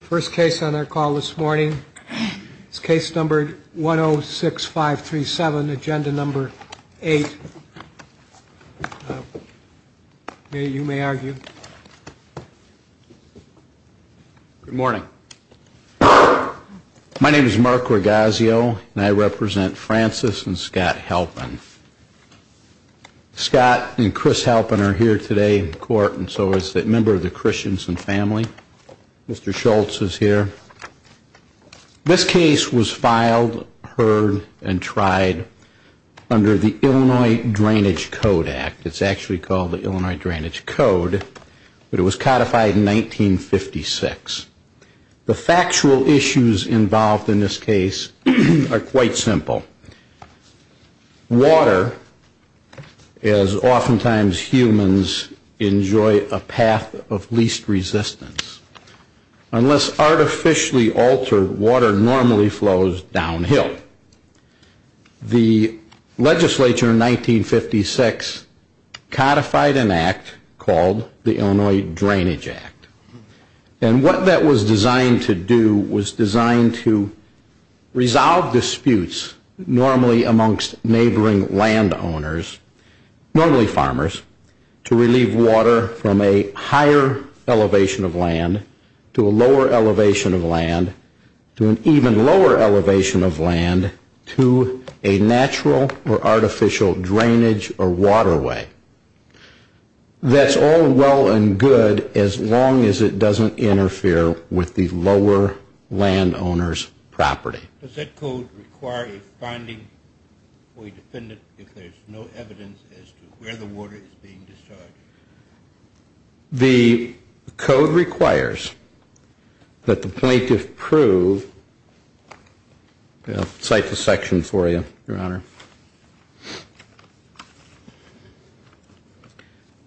First case on our call this morning is case number 106537, agenda number 8. You may argue. Good morning. My name is Mark Rogazio and I represent Francis and Scott Halpin. Scott and Chris Halpin are here today in court and so is a member of the Christians and family. Mr. Schultz is here. This case was filed, heard, and tried under the Illinois Drainage Code Act. It's actually called the Illinois Drainage Code, but it was codified in 1956. The factual issues involved in this case are quite simple. Water, as oftentimes humans, enjoy a path of least resistance. Unless artificially altered, water normally flows downhill. The legislature in 1956 codified an act called the Illinois Drainage Act. And what that was designed to do was design to resolve disputes normally amongst neighboring landowners, normally farmers, to relieve water from a higher elevation of land to a lower elevation of land, to an even lower elevation of land, to a natural or artificial drainage or waterway. That's all well and good as long as it doesn't interfere with the lower landowner's property. Does that code require a finding for a defendant if there's no evidence as to where the water is being discharged? The code requires that the plaintiff prove, I'll cite the section for you, Your Honor.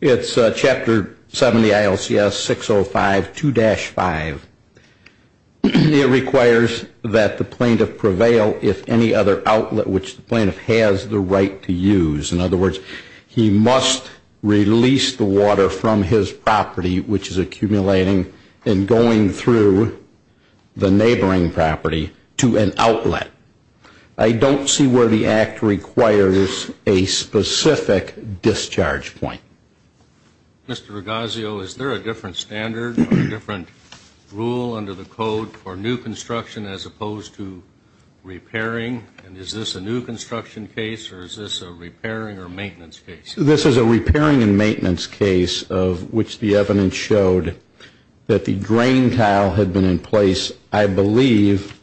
It's Chapter 70, ILCS 605, 2-5. It requires that the plaintiff prevail if any other outlet which the plaintiff has the right to use. In other words, he must release the water from his property which is accumulating and going through the neighboring property to an outlet. I don't see where the act requires a specific discharge point. Mr. Ragazio, is there a different standard or a different rule under the code for new construction as opposed to repairing? And is this a new construction case or is this a repairing or maintenance case? This is a repairing and maintenance case of which the evidence showed that the drain tile had been in place. I believe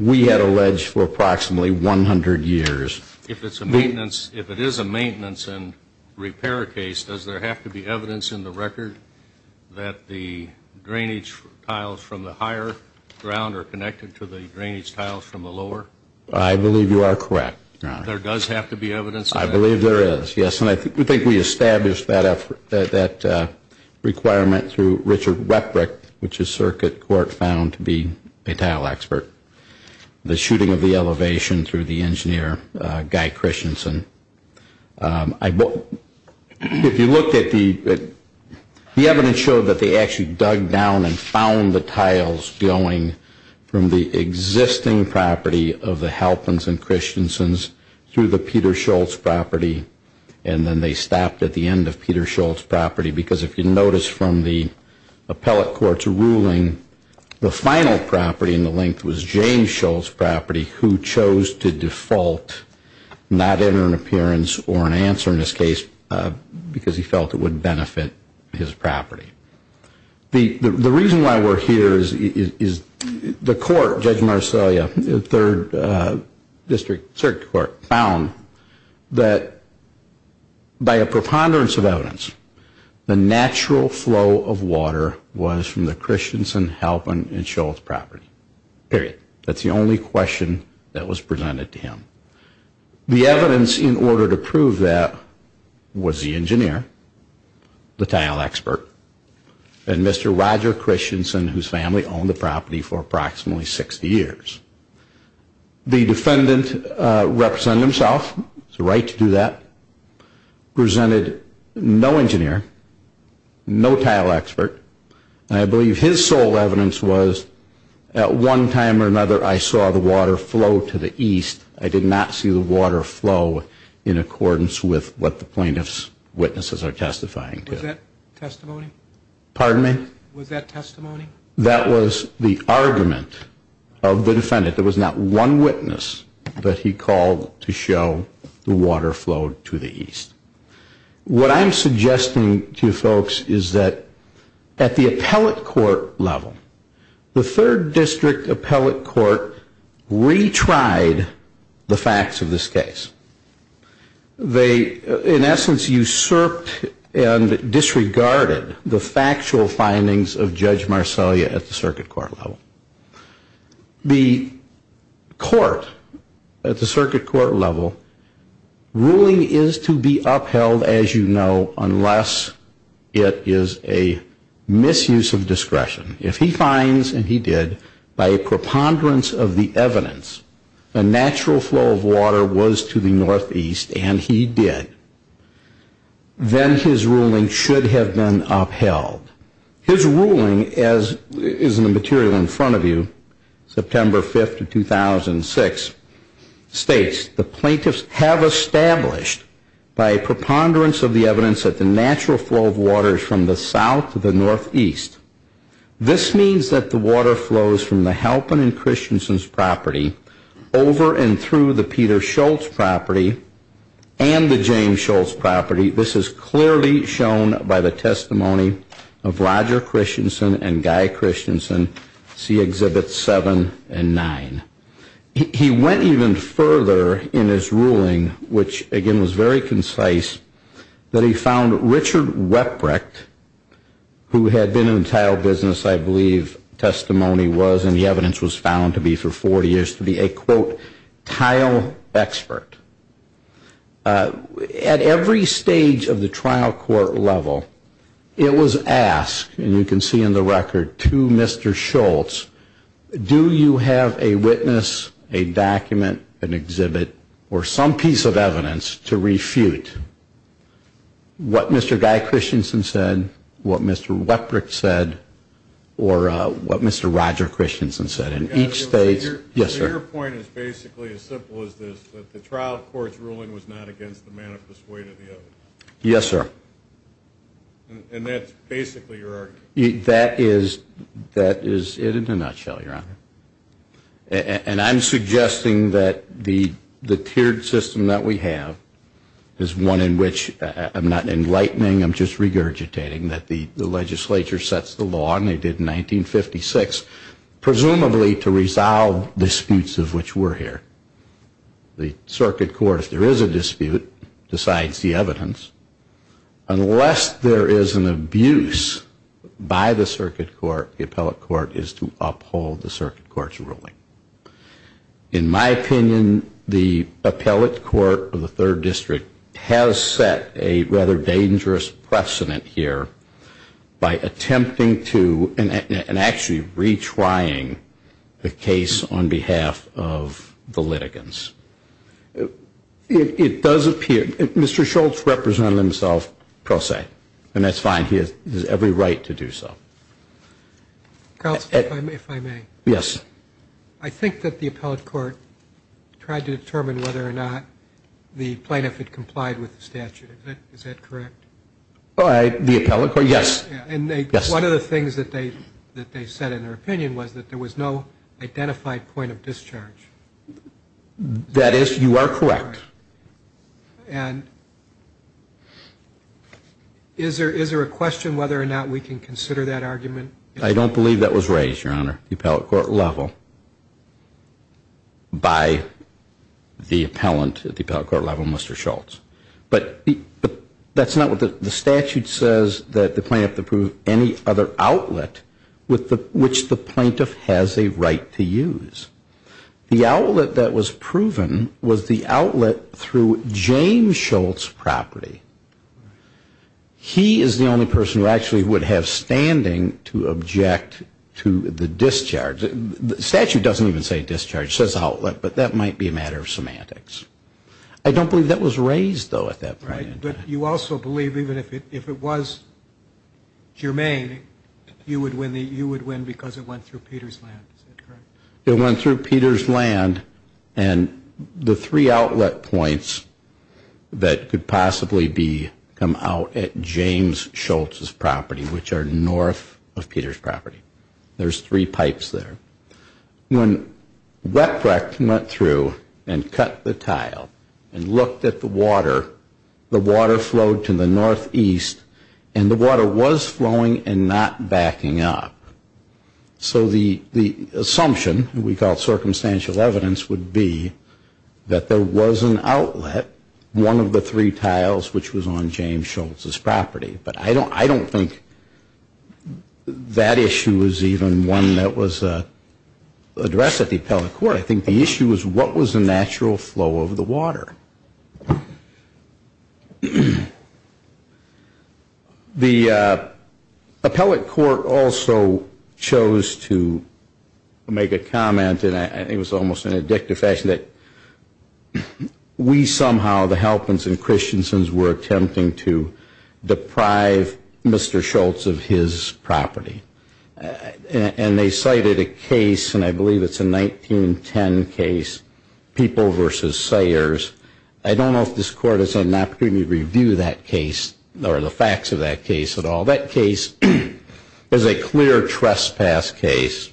we had alleged for approximately 100 years. If it's a maintenance, if it is a maintenance and repair case, does there have to be evidence in the record that the drainage tiles from the higher ground are connected to the drainage tiles from the lower? I believe you are correct, Your Honor. There does have to be evidence? I believe there is, yes. And I think we established that requirement through Richard Weprick, which the circuit court found to be a tile expert. The shooting of the elevation through the engineer, Guy Christensen. If you look at the evidence show that they actually dug down and found the tiles going from the existing property of the Halpins and Christensens through the Peter Schultz property and then they stopped at the end of Peter Schultz property because if you notice from the appellate court's ruling, the final property in the length was James Schultz property who chose to default, not enter an appearance or an answer in this case because he felt it would benefit his property. The reason why we are here is the court, Judge Marcellia, the third district circuit court found that by a preponderance of evidence, the natural flow of water was from the Christensen Halpin and Schultz property, period. That is the only question that was presented to him. The evidence in order to prove that was the engineer, the tile expert, and Mr. Roger Christensen whose family owned the property for approximately 60 years. The defendant represented himself, it's the right to do that, presented no engineer, no tile expert, and I believe his sole evidence was at one time or another I saw the water flow to the east. I did not see the water flow in accordance with what the plaintiff's witnesses are testifying to. Was that testimony? Pardon me? Was that testimony? That was the argument of the defendant. There was not one witness, but he called to show the water flowed to the east. What I'm suggesting to you folks is that at the appellate court level, the third district appellate court retried the facts of this case. They in essence usurped and disregarded the factual findings of Judge Marcellia at the circuit court level. The court at the circuit court level, ruling is to be upheld as you know unless it is a misuse of discretion. If he finds, and he did, by a preponderance of the evidence the natural flow of water was to the northeast, and he did, then his ruling should have been upheld. His ruling is in the material in front of you, September 5th of 2006, states the plaintiffs have established by a preponderance of the evidence that the natural flow of water is from the south to the northeast. This means that the water flows from the Halpin and Christensen's property over and through the Peter Schultz property and the James Schultz property. This is clearly shown by the testimony of Roger Christensen and Guy Christensen, see Exhibits 7 and 9. He went even further in his ruling, which again was very concise, that he found Richard Weprick, who had been in tile business I believe testimony was and the evidence was found to be for 40 years, to be a, quote, tile expert. At every stage of the trial court level it was asked, and you can see in the record, to Mr. Schultz, do you have a witness, a document, an exhibit, or some piece of evidence to refute what Mr. Guy Christensen said, what Mr. Weprick said, or what Mr. Roger Christensen said. In each stage, yes, sir. Your point is basically as simple as this, that the trial court's ruling was not against the manifest weight of the evidence. Yes, sir. And that's basically your argument. That is it in a nutshell, Your Honor. And I'm suggesting that the tiered system that we have is one in which, I'm not enlightening, I'm just regurgitating, that the legislature sets the law, and they did in 1956, presumably to resolve disputes of which were here. The circuit court, if there is a dispute, decides the evidence. Unless there is an abuse by the circuit court, the appellate court is to uphold the circuit court's ruling. In my opinion, the appellate court of the third district has set a rather dangerous precedent here by attempting to, and actually retrying the case on behalf of the litigants. It does appear, Mr. Schultz represented himself pro se, and that's fine. He has every right to do so. Counsel, if I may. Yes. I think that the appellate court tried to determine whether or not the plaintiff had complied with the statute. Is that correct? The appellate court, yes. And one of the things that they said in their opinion was that there was no identified point of discharge. That is, you are correct. And is there a question whether or not we can consider that argument? I don't believe that was raised, Your Honor, at the appellate court level by the appellant at the appellate court level, Mr. Schultz. But that's not what the statute says, that the plaintiff approved any other outlet which the plaintiff has a right to use. The outlet that was proven was the outlet through James Schultz's property. He is the only person who actually would have standing to object to the discharge. The statute doesn't even say discharge. It says outlet, but that might be a matter of semantics. I don't believe that was raised, though, at that point. Right. But you also believe even if it was germane, you would win because it went through Peter's land. Is that correct? It went through Peter's land and the three outlet points that could possibly come out at James Schultz's property, which are north of Peter's property. There's three pipes there. When Wettbrecht went through and cut the tile and looked at the water, the water flowed to the northeast, and the water was flowing and not backing up. So the assumption, we call it circumstantial evidence, would be that there was an outlet, one of the three tiles which was on James Schultz's property. But I don't think that issue is even one that was addressed at the appellate court. I think the issue is what was the natural flow of the water. The appellate court also chose to make a comment, and I think it was almost in an addictive fashion, that we somehow, the Halpins and Christiansens, were attempting to deprive Mr. Schultz of his property. And they cited a case, and I believe it's a 1910 case, People v. Sayers, I don't know if this court has had an opportunity to review that case or the facts of that case at all. That case was a clear trespass case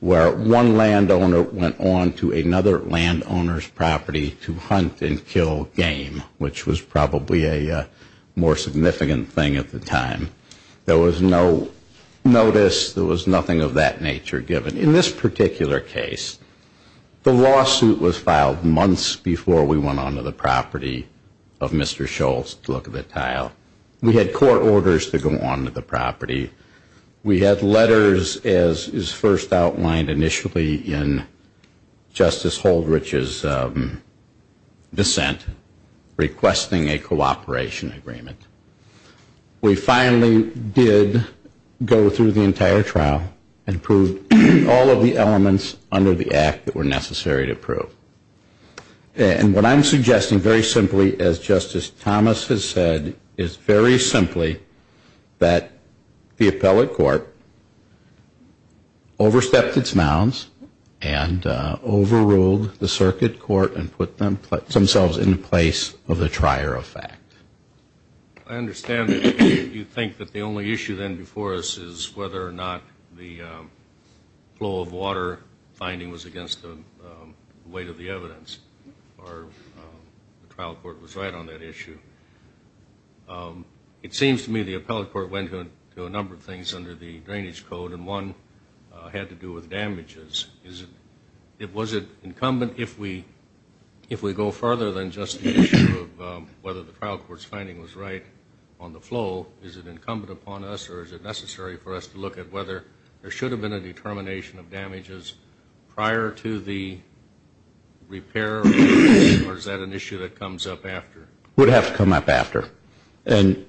where one landowner went on to another landowner's property to hunt and kill game, which was probably a more significant thing at the time. There was no notice. There was nothing of that nature given. In this particular case, the lawsuit was filed months before we went on to the property of Mr. Schultz to look at the tile. We had court orders to go on to the property. We had letters, as is first outlined initially in Justice Holdrich's dissent, requesting a cooperation agreement. We finally did go through the entire trial and proved all of the elements under the act that were necessary to prove. And what I'm suggesting very simply, as Justice Thomas has said, is very simply that the appellate court overstepped its mounds and overruled the circuit court and put themselves in the place of the trier of fact. I understand that you think that the only issue then before us is whether or not the flow of water finding was against the weight of the evidence or the trial court was right on that issue. It seems to me the appellate court went to a number of things under the drainage code, and one had to do with damages. Was it incumbent, if we go further than just the issue of whether the trial court's finding was right on the flow, is it incumbent upon us or is it necessary for us to look at whether there should have been a determination of damages prior to the repair or is that an issue that comes up after? It would have to come up after. And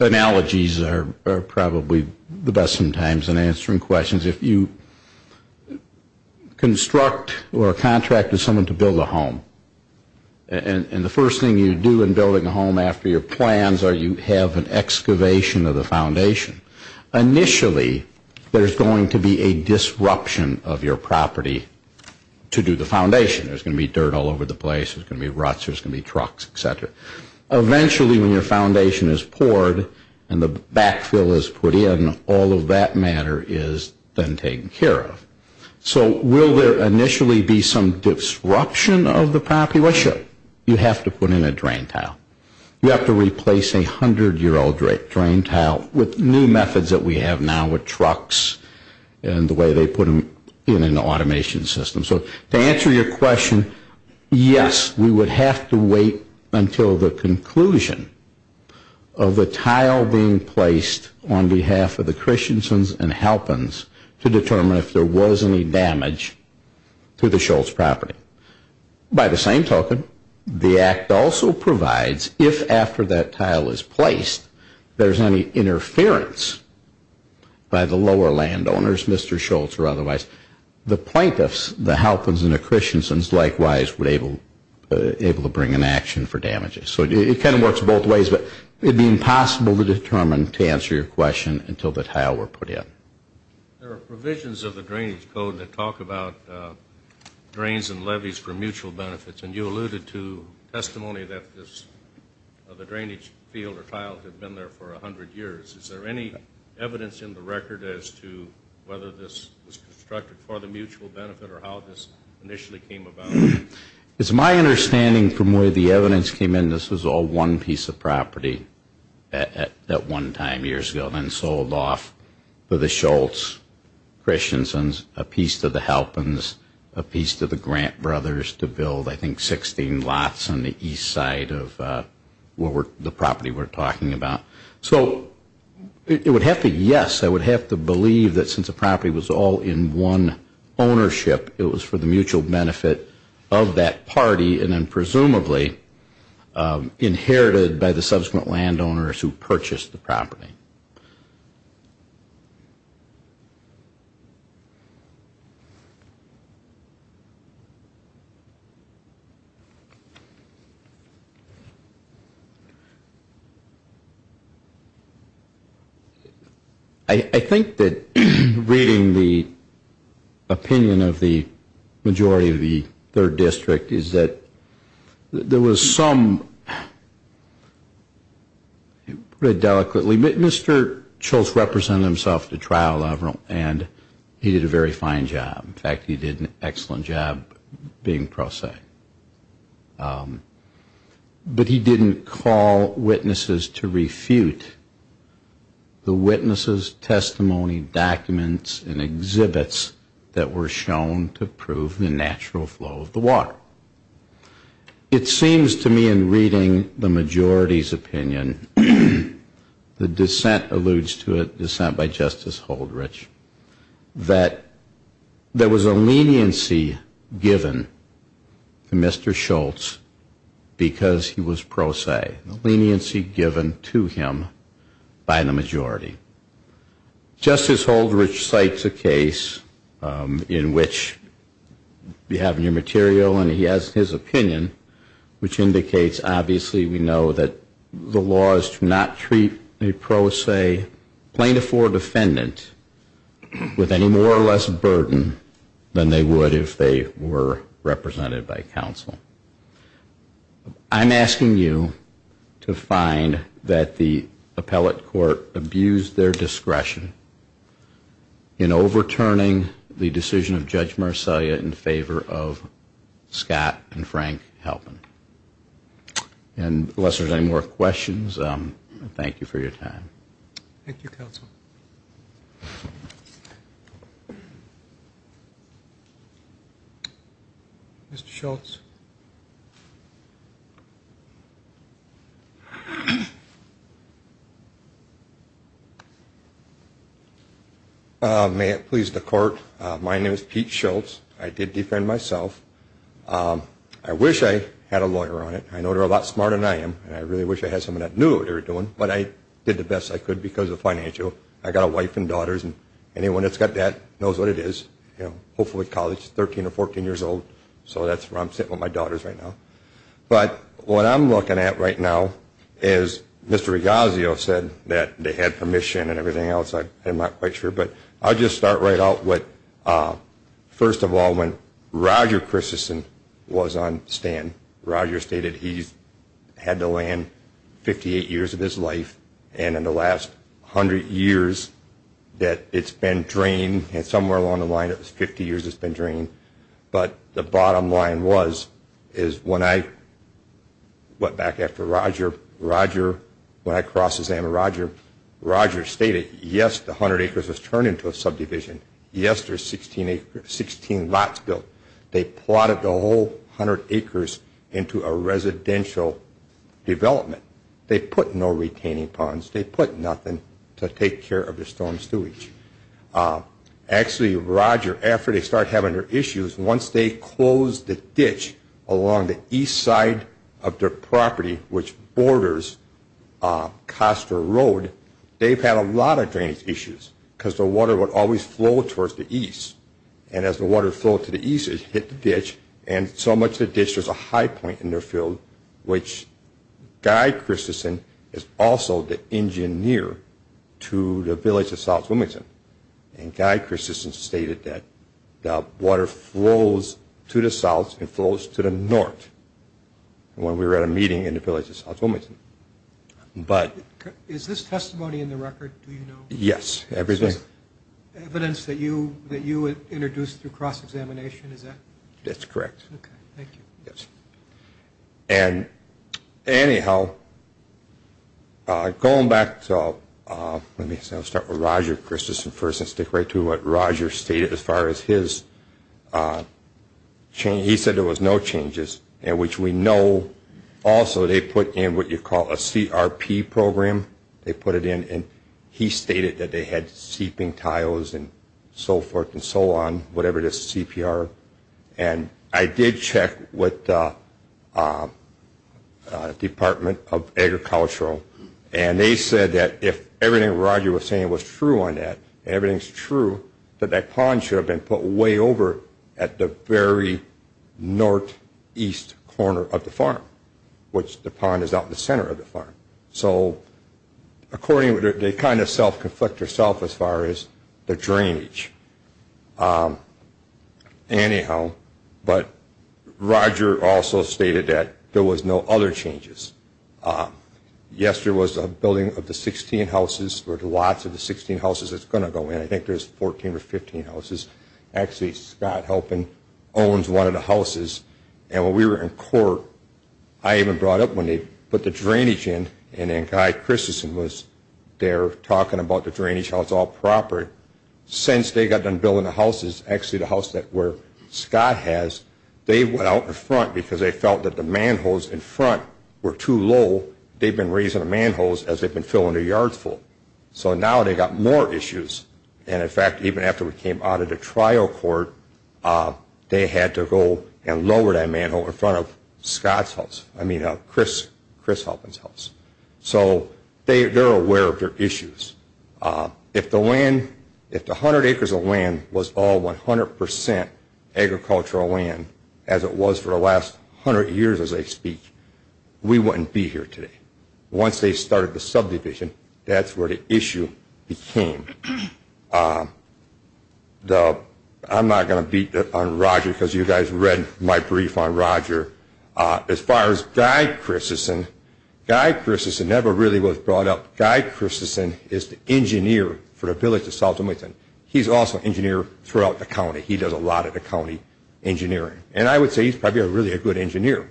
analogies are probably the best sometimes in answering questions. If you construct or contract with someone to build a home, and the first thing you do in building a home after your plans are you have an excavation of the foundation. Initially, there's going to be a disruption of your property to do the foundation. There's going to be dirt all over the place. There's going to be ruts. There's going to be trucks, et cetera. Eventually, when your foundation is poured and the backfill is put in, all of that matter is then taken care of. So will there initially be some disruption of the property? Well, sure. You have to put in a drain tile. You have to replace a hundred-year-old drain tile with new methods that we have now with trucks and the way they put them in an automation system. So to answer your question, yes, we would have to wait until the conclusion of the tile being placed on behalf of the Christiansons and Halpins to determine if there was any damage to the Schultz property. By the same token, the Act also provides if after that tile is placed there's any interference by the lower landowners, Mr. Schultz or otherwise, the plaintiffs, the Halpins and the Christiansons, likewise, would be able to bring an action for damages. So it kind of works both ways. But it would be impossible to determine, to answer your question, until the tile were put in. There are provisions of the Drainage Code that talk about drains and levees for mutual benefits. And you alluded to testimony of a drainage field or tile that had been there for a hundred years. Is there any evidence in the record as to whether this was constructed for the mutual benefit or how this initially came about? It's my understanding from where the evidence came in, this was all one piece of property at one time years ago and then sold off to the Schultz Christiansons, a piece to the Halpins, a piece to the Grant Brothers to build, I think, 16 lots on the east side of the property we're talking about. So it would have to, yes, I would have to believe that since the property was all in one ownership, it was for the mutual benefit of that party and then presumably inherited by the subsequent landowners who purchased the property. I think that reading the opinion of the majority of the third district is that there was some, Mr. Schultz represented himself to trial and he did a very fine job. In fact, he did an excellent job being pro se. But he didn't call witnesses to refute the witnesses, testimony, documents and exhibits that were shown to prove the natural flow of the water. It seems to me in reading the majority's opinion, the dissent alludes to a dissent by Justice Holdrich, that there was a leniency given to Mr. Schultz because he was pro se. A leniency given to him by the majority. Justice Holdrich cites a case in which we have new material and he has his opinion, which indicates obviously we know that the laws do not treat a pro se plaintiff or defendant with any more or less burden than they would if they were represented by counsel. I'm asking you to find that the appellate court abused their discretion in overturning the decision of Judge Marcellia in favor of Scott and Frank Halpin. And unless there's any more questions, thank you for your time. Thank you, counsel. Mr. Schultz. May it please the court. My name is Pete Schultz. I did defend myself. I wish I had a lawyer on it. I know they're a lot smarter than I am and I really wish I had someone that knew what they were doing. But I did the best I could because of financial. I got a wife and daughters and anyone that's got that knows what it is. Hopefully college, 13 or 14 years old. So that's where I'm sitting with my daughters right now. But what I'm looking at right now is Mr. Regazio said that they had permission and everything else. I'm not quite sure. But I'll just start right out with first of all, when Roger Christensen was on stand, Roger stated he's had to land 58 years of his life and in the last 100 years that it's been drained and somewhere along the line it was 50 years it's been drained. But the bottom line was is when I went back after Roger, when I cross examined Roger, Roger stated yes, the 100 acres was turned into a subdivision. Yes, there's 16 lots built. They plotted the whole 100 acres into a residential development. They put no retaining ponds. They put nothing to take care of the storm sewage. Actually, Roger, after they started having their issues, once they closed the ditch along the east side of their property, which borders Costa Road, they've had a lot of drainage issues because the water would always flow towards the east. And as the water flowed to the east, it hit the ditch. And so much of the ditch, there's a high point in their field, which Guy Christensen is also the engineer to the village of South Wilmington. And Guy Christensen stated that the water flows to the south and flows to the north when we were at a meeting in the village of South Wilmington. Is this testimony in the record, do you know? Yes, everything. Evidence that you introduced through cross examination, is that? That's correct. Okay, thank you. Yes. And anyhow, going back to, let me start with Roger Christensen first and stick right to what Roger stated as far as his change. He said there was no changes, which we know. Also, they put in what you call a CRP program. They put it in. And he stated that they had seeping tiles and so forth and so on, whatever the CPR. And I did check with the Department of Agricultural, and they said that if everything Roger was saying was true on that, and everything's true, that that pond should have been put way over at the very northeast corner of the farm, which the pond is out in the center of the farm. So according, they kind of self-conflict themselves as far as the drainage. Anyhow, but Roger also stated that there was no other changes. Yes, there was a building of the 16 houses, or lots of the 16 houses that's going to go in. I think there's 14 or 15 houses. Actually, Scott Helping owns one of the houses. And when we were in court, I even brought up when they put the drainage in, and then Guy Christensen was there talking about the drainage, how it's all proper. Since they got done building the houses, actually the house where Scott has, they went out in front because they felt that the manholes in front were too low. They'd been raising the manholes as they'd been filling their yards full. So now they've got more issues. And in fact, even after we came out of the trial court, they had to go and lower that manhole in front of Chris Helping's house. So they're aware of their issues. If the 100 acres of land was all 100% agricultural land, as it was for the last 100 years as they speak, we wouldn't be here today. Once they started the subdivision, that's where the issue became. I'm not going to beat on Roger because you guys read my brief on Roger. As far as Guy Christensen, Guy Christensen never really was brought up. Guy Christensen is the engineer for the village of Saltonwoodton. He's also an engineer throughout the county. He does a lot of the county engineering. And I would say he's probably really a good engineer.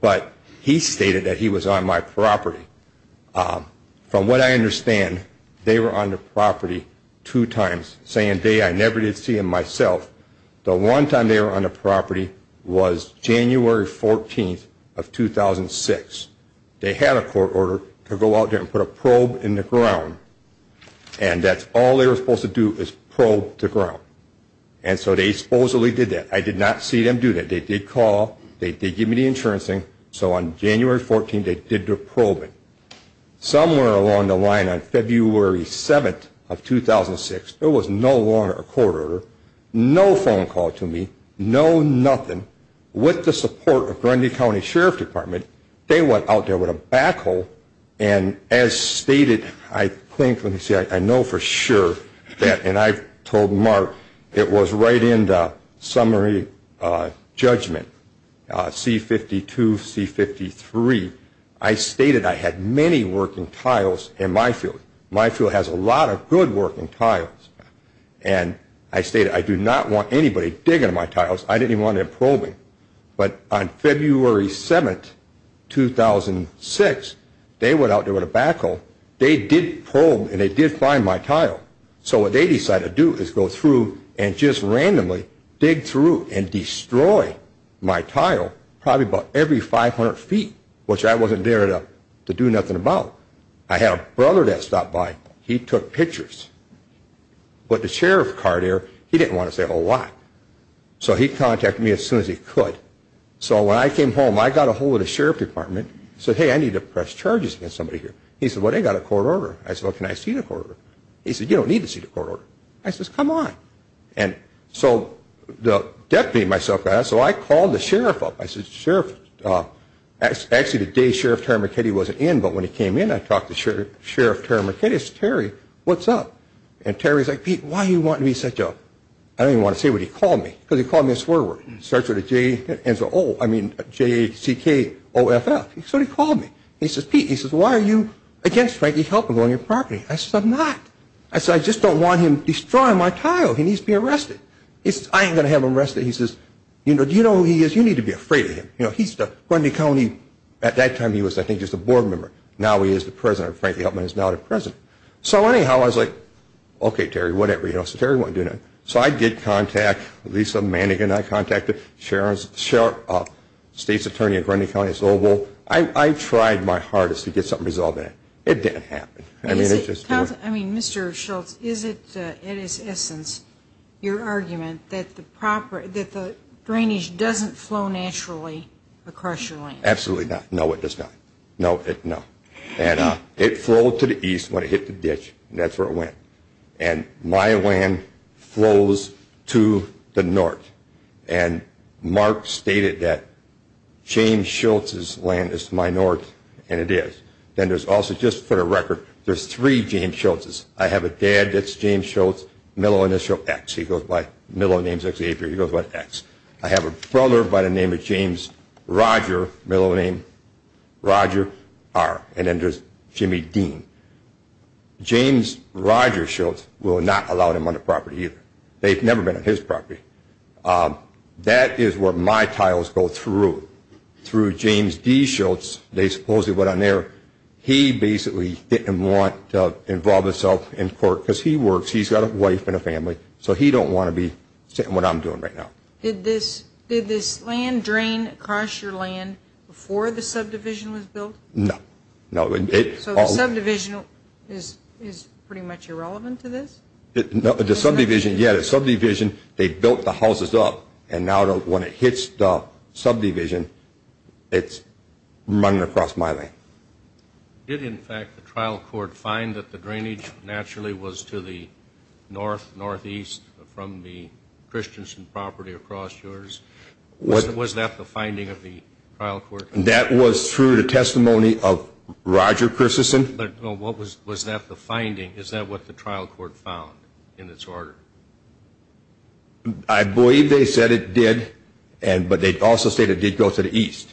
But he stated that he was on my property. From what I understand, they were on the property two times, saying they never did see him myself. The one time they were on the property was January 14th of 2006. They had a court order to go out there and put a probe in the ground, and that's all they were supposed to do is probe the ground. And so they supposedly did that. I did not see them do that. And they did call. They did give me the insurance thing. So on January 14th, they did the probing. Somewhere along the line on February 7th of 2006, there was no longer a court order, no phone call to me, no nothing. With the support of Grundy County Sheriff's Department, they went out there with a backhoe. And as stated, I think, let me see, I know for sure that, and I told Mark, it was right in the summary judgment, C-52, C-53. I stated I had many working tiles in my field. My field has a lot of good working tiles. And I stated I do not want anybody digging my tiles. I didn't even want them probing. But on February 7th, 2006, they went out there with a backhoe. They did probe, and they did find my tile. So what they decided to do is go through and just randomly dig through and destroy my tile probably about every 500 feet, which I wasn't there to do nothing about. I had a brother that stopped by. He took pictures. But the sheriff card there, he didn't want to say a whole lot. So he contacted me as soon as he could. So when I came home, I got a hold of the sheriff's department and said, hey, I need to press charges against somebody here. He said, well, they've got a court order. I said, well, can I see the court order? He said, you don't need to see the court order. I said, come on. And so the deputy and myself got out. So I called the sheriff up. I said, sheriff, actually the day Sheriff Terry McKinney wasn't in, but when he came in, I talked to Sheriff Terry McKinney. I said, Terry, what's up? And Terry was like, Pete, why do you want to be such a – I didn't even want to say what he called me because he called me a swear word. It starts with a J and ends with O. I mean, J-A-C-K-O-F-F. So he called me. He says, Pete, why are you against Frankie Helton going on your property? I said, I'm not. I said, I just don't want him destroying my title. He needs to be arrested. He says, I ain't going to have him arrested. He says, you know, do you know who he is? You need to be afraid of him. You know, he's the Grundy County – at that time he was, I think, just a board member. Now he is the president. Frankie Helton is now the president. So anyhow, I was like, okay, Terry, whatever. You know, so Terry won't do nothing. So I did contact Lisa Mannigan. I contacted Sheriff – State's Attorney of Grundy County, it's Oval. I tried my hardest to get something resolved in it. It didn't happen. I mean, Mr. Schultz, is it, in its essence, your argument that the drainage doesn't flow naturally across your land? Absolutely not. No, it does not. No, it – no. And it flowed to the east when it hit the ditch. That's where it went. And my land flows to the north. And Mark stated that James Schultz's land is to my north, and it is. Then there's also, just for the record, there's three James Schultz's. I have a dad that's James Schultz. Mello and his show X. He goes by – Mello's name is X. He goes by X. I have a brother by the name of James Roger. Mello's name Roger R. And then there's Jimmy Dean. James Roger Schultz will not allow them on the property either. They've never been on his property. That is where my tiles go through. Through James D. Schultz, they supposedly went on there. He basically didn't want to involve himself in court because he works. He's got a wife and a family, so he don't want to be saying what I'm doing right now. Did this land drain across your land before the subdivision was built? No. So the subdivision is pretty much irrelevant to this? The subdivision, yeah, the subdivision, they built the houses up, and now when it hits the subdivision, it's running across my land. Did, in fact, the trial court find that the drainage naturally was to the north, northeast, from the Christensen property across yours? Was that the finding of the trial court? That was through the testimony of Roger Christensen. Was that the finding? Is that what the trial court found in its order? I believe they said it did, but they also said it did go to the east.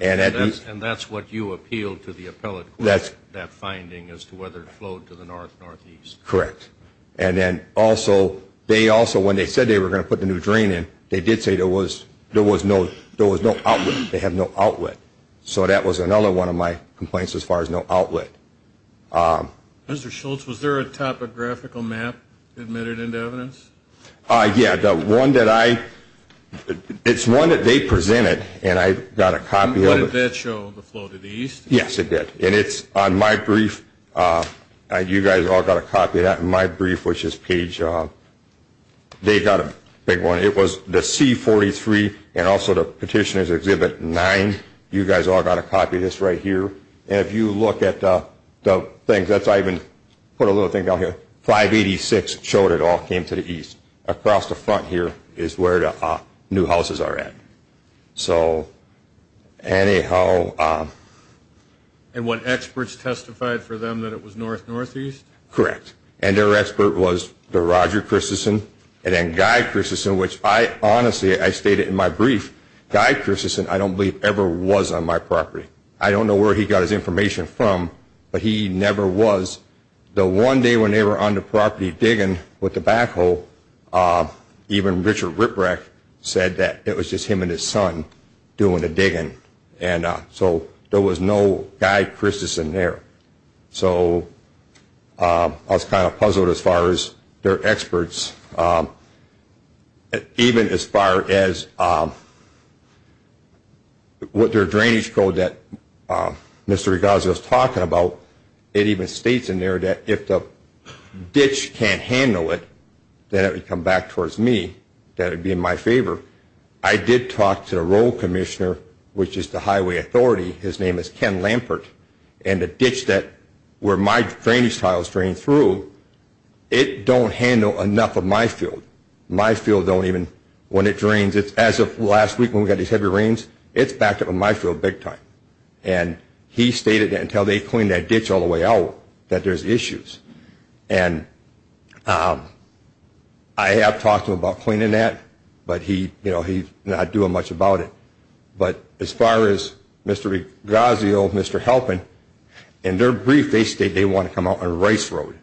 And that's what you appealed to the appellate court, that finding, as to whether it flowed to the north, northeast. Correct. And then also, they also, when they said they were going to put the new drain in, they did say there was no outlet. They have no outlet. So that was another one of my complaints as far as no outlet. Mr. Schultz, was there a topographical map admitted into evidence? Yeah, the one that I, it's one that they presented, and I got a copy of it. And did that show the flow to the east? Yes, it did. And it's on my brief, you guys all got a copy of that, and my brief was just page, they got a big one. It was the C-43 and also the Petitioner's Exhibit 9. You guys all got a copy of this right here. And if you look at the things, I even put a little thing down here, 586 showed it all came to the east. Across the front here is where the new houses are at. So anyhow. And what experts testified for them that it was north, northeast? Correct. And their expert was the Roger Christensen and then Guy Christensen, which I honestly, I state it in my brief, Guy Christensen I don't believe ever was on my property. I don't know where he got his information from, but he never was. The one day when they were on the property digging with the backhoe, even Richard Rittbrecht said that it was just him and his son doing the digging. And so there was no Guy Christensen there. So I was kind of puzzled as far as their experts, even as far as what their drainage code that Mr. Regazio was talking about, it even states in there that if the ditch can't handle it, then it would come back towards me, that it would be in my favor. I did talk to the road commissioner, which is the highway authority. His name is Ken Lampert. And the ditch that where my drainage tile is drained through, it don't handle enough of my field. My field don't even, when it drains, as of last week when we got these heavy rains, it's backed up on my field big time. And he stated that until they clean that ditch all the way out that there's issues. And I have talked to him about cleaning that, but he's not doing much about it. But as far as Mr. Regazio, Mr. Halpin, in their brief they state they want to come out on Rice Road.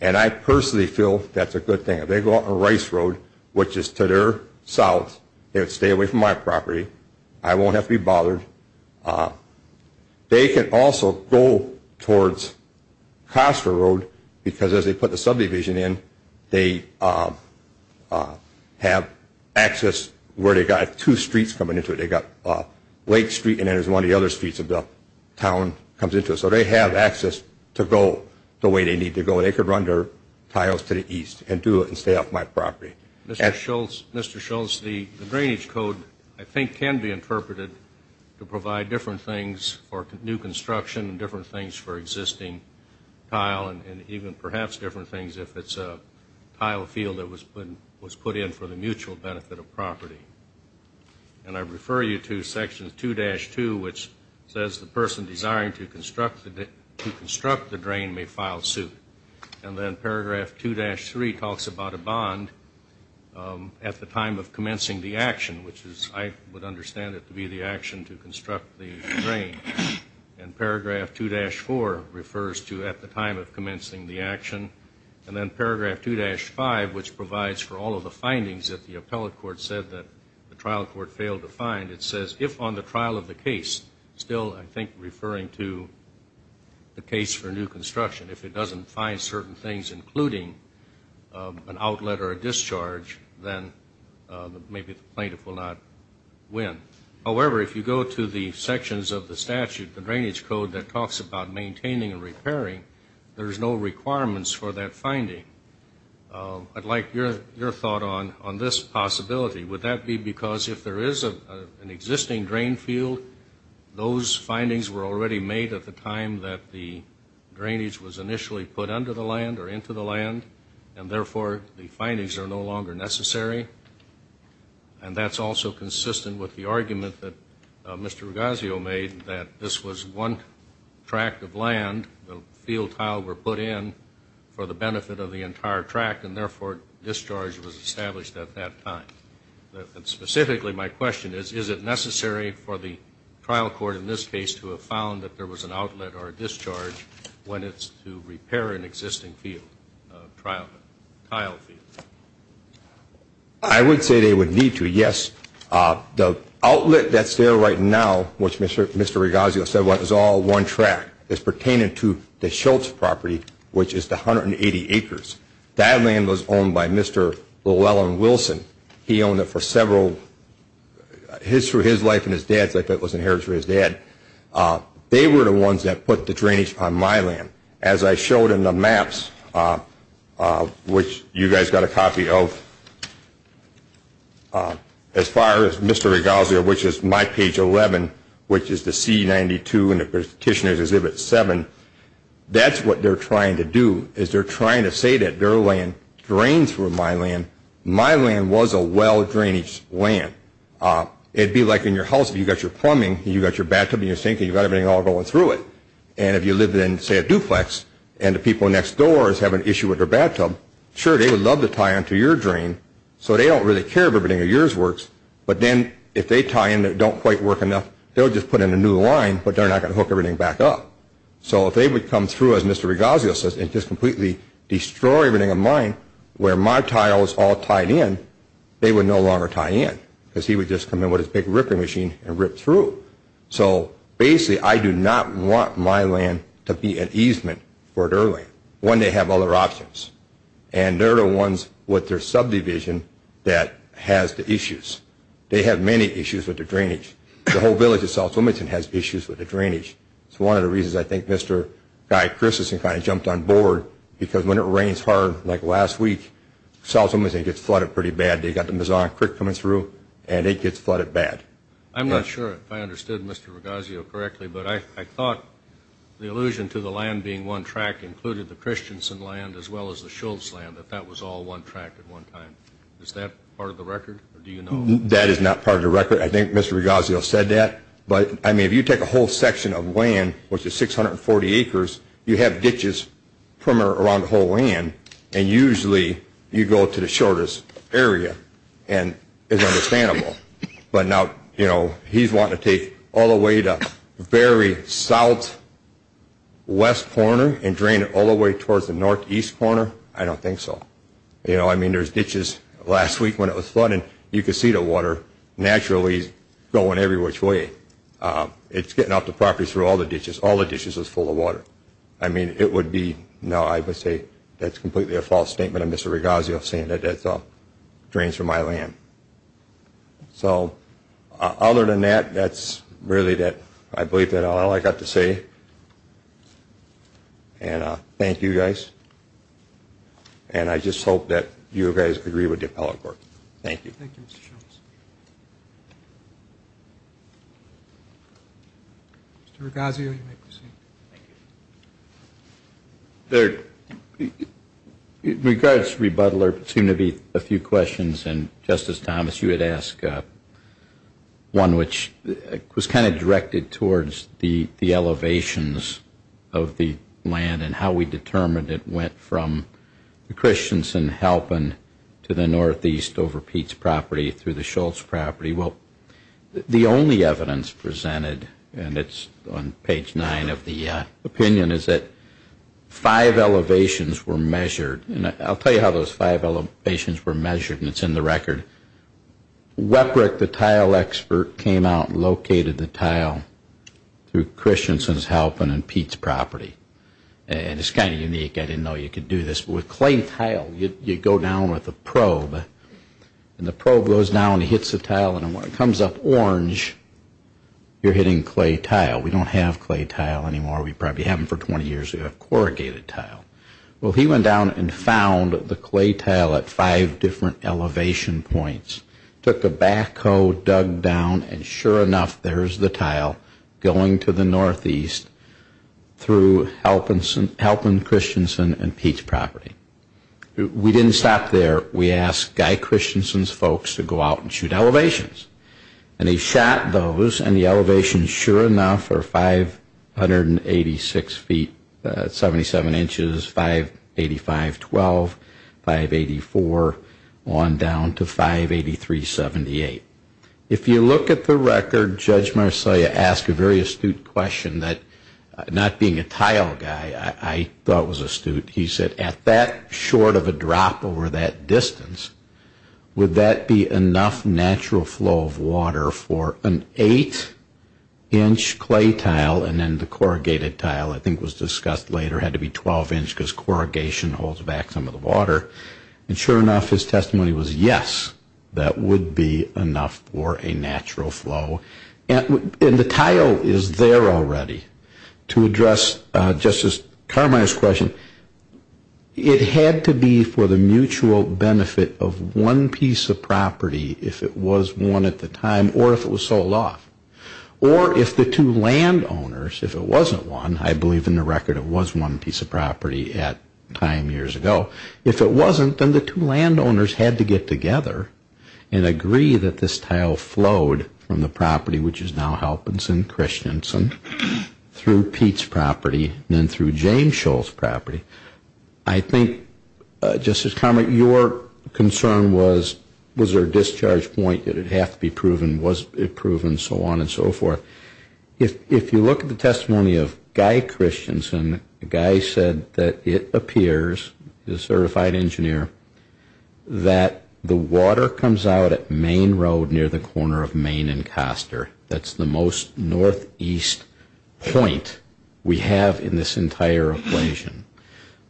And I personally feel that's a good thing. If they go out on Rice Road, which is to their south, they would stay away from my property. I won't have to be bothered. They can also go towards Coster Road because as they put the subdivision in, they have access where they've got two streets coming into it. They've got Lake Street and then there's one of the other streets of the town comes into it. So they have access to go the way they need to go. They could run their tiles to the east and do it and stay off my property. Mr. Schultz, the drainage code I think can be interpreted to provide different things for new construction and different things for existing tile and even perhaps different things if it's a tile field that was put in for the mutual benefit of property. And I refer you to Section 2-2, which says the person desiring to construct the drain may file suit. And then Paragraph 2-3 talks about a bond at the time of commencing the action, which is I would understand it to be the action to construct the drain. And Paragraph 2-4 refers to at the time of commencing the action. And then Paragraph 2-5, which provides for all of the findings that the appellate court said that the trial court failed to find, it says if on the trial of the case, still I think referring to the case for new construction, if it doesn't find certain things including an outlet or a discharge, then maybe the plaintiff will not win. However, if you go to the sections of the statute, the drainage code that talks about maintaining and repairing, there's no requirements for that finding. I'd like your thought on this possibility. Would that be because if there is an existing drain field, those findings were already made at the time that the drainage was initially put under the land or into the land, and therefore the findings are no longer necessary? And that's also consistent with the argument that Mr. Rugazio made that this was one tract of land, the field tile were put in for the benefit of the entire tract, and therefore discharge was established at that time. Specifically, my question is, is it necessary for the trial court in this case to have found that there was an outlet or a discharge when it's to repair an existing field, trial tile field? I would say they would need to, yes. The outlet that's there right now, which Mr. Rugazio said was all one tract, is pertaining to the Schultz property, which is the 180 acres. That land was owned by Mr. Llewellyn Wilson. He owned it for several, through his life and his dad's life, it was inherited from his dad. They were the ones that put the drainage on my land. As I showed in the maps, which you guys got a copy of, as far as Mr. Rugazio, which is my page 11, which is the C92 in the Petitioner's Exhibit 7, that's what they're trying to do, is they're trying to say that their land drains from my land. It'd be like in your house if you've got your plumbing and you've got your bathtub and your sink and you've got everything all going through it. If you live in, say, a duplex and the people next door have an issue with their bathtub, sure, they would love to tie on to your drain, so they don't really care if everything in yours works, but then if they tie in that don't quite work enough, they'll just put in a new line, but they're not going to hook everything back up. If they would come through, as Mr. Rugazio says, and just completely destroy everything in mine where my tile is all tied in, they would no longer tie in because he would just come in with his big ripping machine and rip through. So basically, I do not want my land to be an easement for their land when they have other options and they're the ones with their subdivision that has the issues. They have many issues with the drainage. The whole village of South Wilmington has issues with the drainage. It's one of the reasons I think Mr. Guy Christensen kind of jumped on board because when it rains hard, like last week, South Wilmington gets flooded pretty bad. They've got the Meson Creek coming through and it gets flooded bad. I'm not sure if I understood Mr. Rugazio correctly, but I thought the allusion to the land being one track included the Christensen land as well as the Schultz land, that that was all one track at one time. Is that part of the record or do you know? That is not part of the record. I think Mr. Rugazio said that, but I mean, if you take a whole section of land, which is 640 acres, you have ditches from around the whole land and usually you go to the shortest area and it's understandable. But now, you know, he's wanting to take all the way to the very southwest corner and drain it all the way towards the northeast corner? I don't think so. You know, I mean, there's ditches. Last week when it was flooding, you could see the water naturally going every which way. It's getting off the property through all the ditches. All the ditches was full of water. I mean, it would be, no, I would say that's completely a false statement of Mr. Rugazio saying that that drains from my land. So other than that, that's really that I believe that's all I've got to say. And thank you guys. And I just hope that you guys agree with the appellate court. Thank you. Thank you, Mr. Shultz. Mr. Rugazio, you may proceed. Thank you. In regards to rebuttal, there seem to be a few questions, and Justice Thomas, you had asked one which was kind of directed towards the elevations of the land and how we determined it went from the Christensen-Halpin to the northeast over Pete's property through the Shultz property. Well, the only evidence presented, and it's on page 9 of the opinion, is that five elevations were measured. And I'll tell you how those five elevations were measured, and it's in the record. Weprick, the tile expert, came out and located the tile through Christensen-Halpin and Pete's property. And it's kind of unique. I didn't know you could do this. With clay tile, you go down with a probe, and the probe goes down and hits the tile, and when it comes up orange, you're hitting clay tile. We don't have clay tile anymore. We probably haven't for 20 years. We have corrugated tile. Well, he went down and found the clay tile at five different elevation points, took a backhoe, dug down, and sure enough, there's the tile going to the northeast through Halpin-Christensen and Pete's property. We didn't stop there. We asked Guy Christensen's folks to go out and shoot elevations, and he shot those, and the elevations, sure enough, are 586 feet, 77 inches, 585.12, 584, on down to 583.78. If you look at the record, Judge Marcellia asked a very astute question that, not being a tile guy, I thought was astute. He said, at that short of a drop over that distance, would that be enough natural flow of water for an eight-inch clay tile, and then the corrugated tile, I think was discussed later, had to be 12-inch because corrugation holds back some of the water. And sure enough, his testimony was, yes, that would be enough for a natural flow. And the tile is there already. To address Justice Carminer's question, it had to be for the mutual benefit of one piece of property, if it was one at the time, or if it was sold off. Or if the two landowners, if it wasn't one, I believe in the record it was one piece of property at the time years ago, if it wasn't, then the two landowners had to get together and agree that this tile flowed from the property, which is now Halpenson Christensen, through Pete's property, and then through James Shull's property. I think, Justice Carminer, your concern was, was there a discharge point? Did it have to be proven? Was it proven? So on and so forth. If you look at the testimony of Guy Christensen, Guy said that it appears, he's a certified engineer, that the water comes out at Main Road near the corner of Main and Coster. That's the most northeast point we have in this entire equation.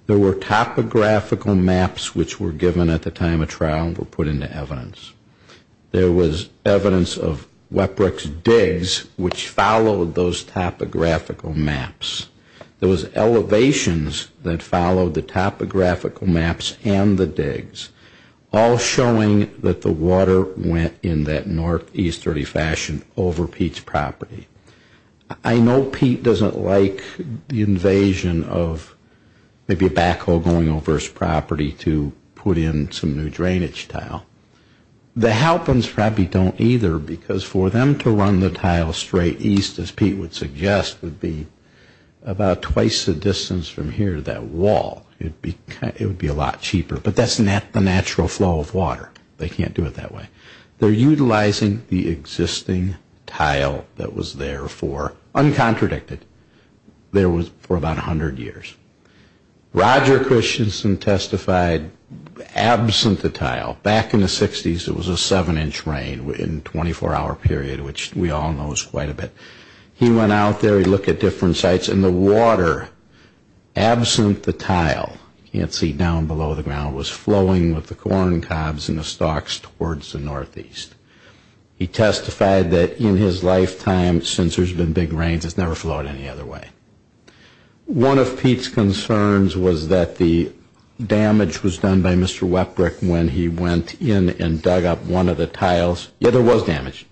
There were topographical maps which were given at the time of trial and were put into evidence. There was evidence of Weprick's digs, which followed those topographical maps. There was elevations that followed the topographical maps and the digs, all showing that the water went in that northeasterly fashion over Pete's property. I know Pete doesn't like the invasion of maybe a backhoe going over his property to put in some new drainage tile. The Halpins probably don't either because for them to run the tile straight east, as Pete would suggest, would be about twice the distance from here to that wall. It would be a lot cheaper, but that's the natural flow of water. They can't do it that way. They're utilizing the existing tile that was there for, uncontradicted, there was for about 100 years. Roger Christensen testified absent the tile. Back in the 60s, it was a 7-inch rain in a 24-hour period, which we all know is quite a bit. He went out there. He looked at different sites, and the water absent the tile, you can't see down below the ground, was flowing with the corn cobs and the stalks towards the northeast. He testified that in his lifetime, since there's been big rains, it's never flowed any other way. One of Pete's concerns was that the damage was done by Mr. Weprick when he went in and dug up one of the tiles. Yeah, there was damage.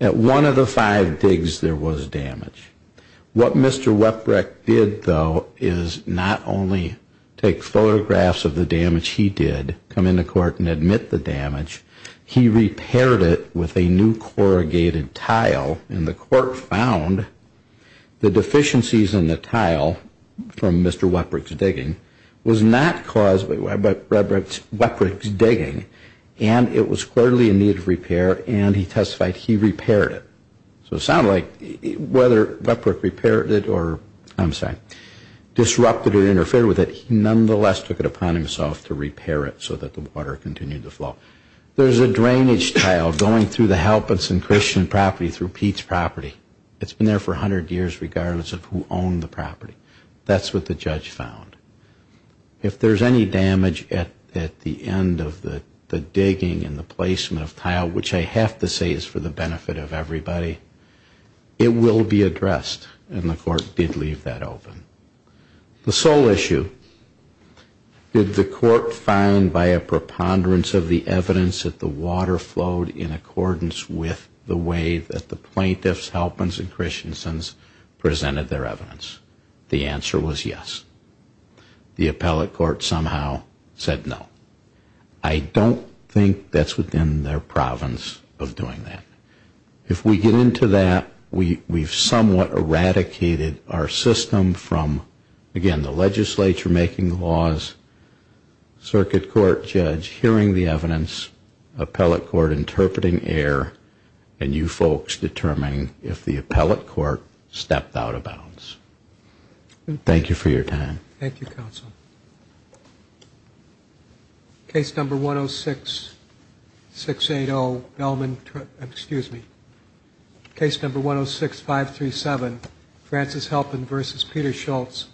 At one of the five digs, there was damage. What Mr. Weprick did, though, is not only take photographs of the damage he did, come into court and admit the damage, he repaired it with a new corrugated tile, and the court found the deficiencies in the tile from Mr. Weprick's digging was not caused by Weprick's digging, and it was clearly in need of repair, and he testified he repaired it. So it sounded like whether Weprick repaired it or, I'm sorry, disrupted or interfered with it, he nonetheless took it upon himself to repair it so that the water continued to flow. There's a drainage tile going through the Halpinson Christian property through Pete's property. It's been there for 100 years regardless of who owned the property. That's what the judge found. If there's any damage at the end of the digging and the placement of tile, which I have to say is for the benefit of everybody, it will be addressed, and the court did leave that open. The sole issue, did the court find by a preponderance of the evidence that the water flowed in accordance with the way that the plaintiffs, Halpinson Christiansons, presented their evidence? The answer was yes. The appellate court somehow said no. I don't think that's within their province of doing that. If we get into that, we've somewhat eradicated our system from, again, the legislature making the laws, circuit court judge hearing the evidence, appellate court interpreting error, and you folks determining if the appellate court stepped out of bounds. Thank you for your time. Thank you, counsel. Case number 106-537, Francis Halpin v. Peter Schultz.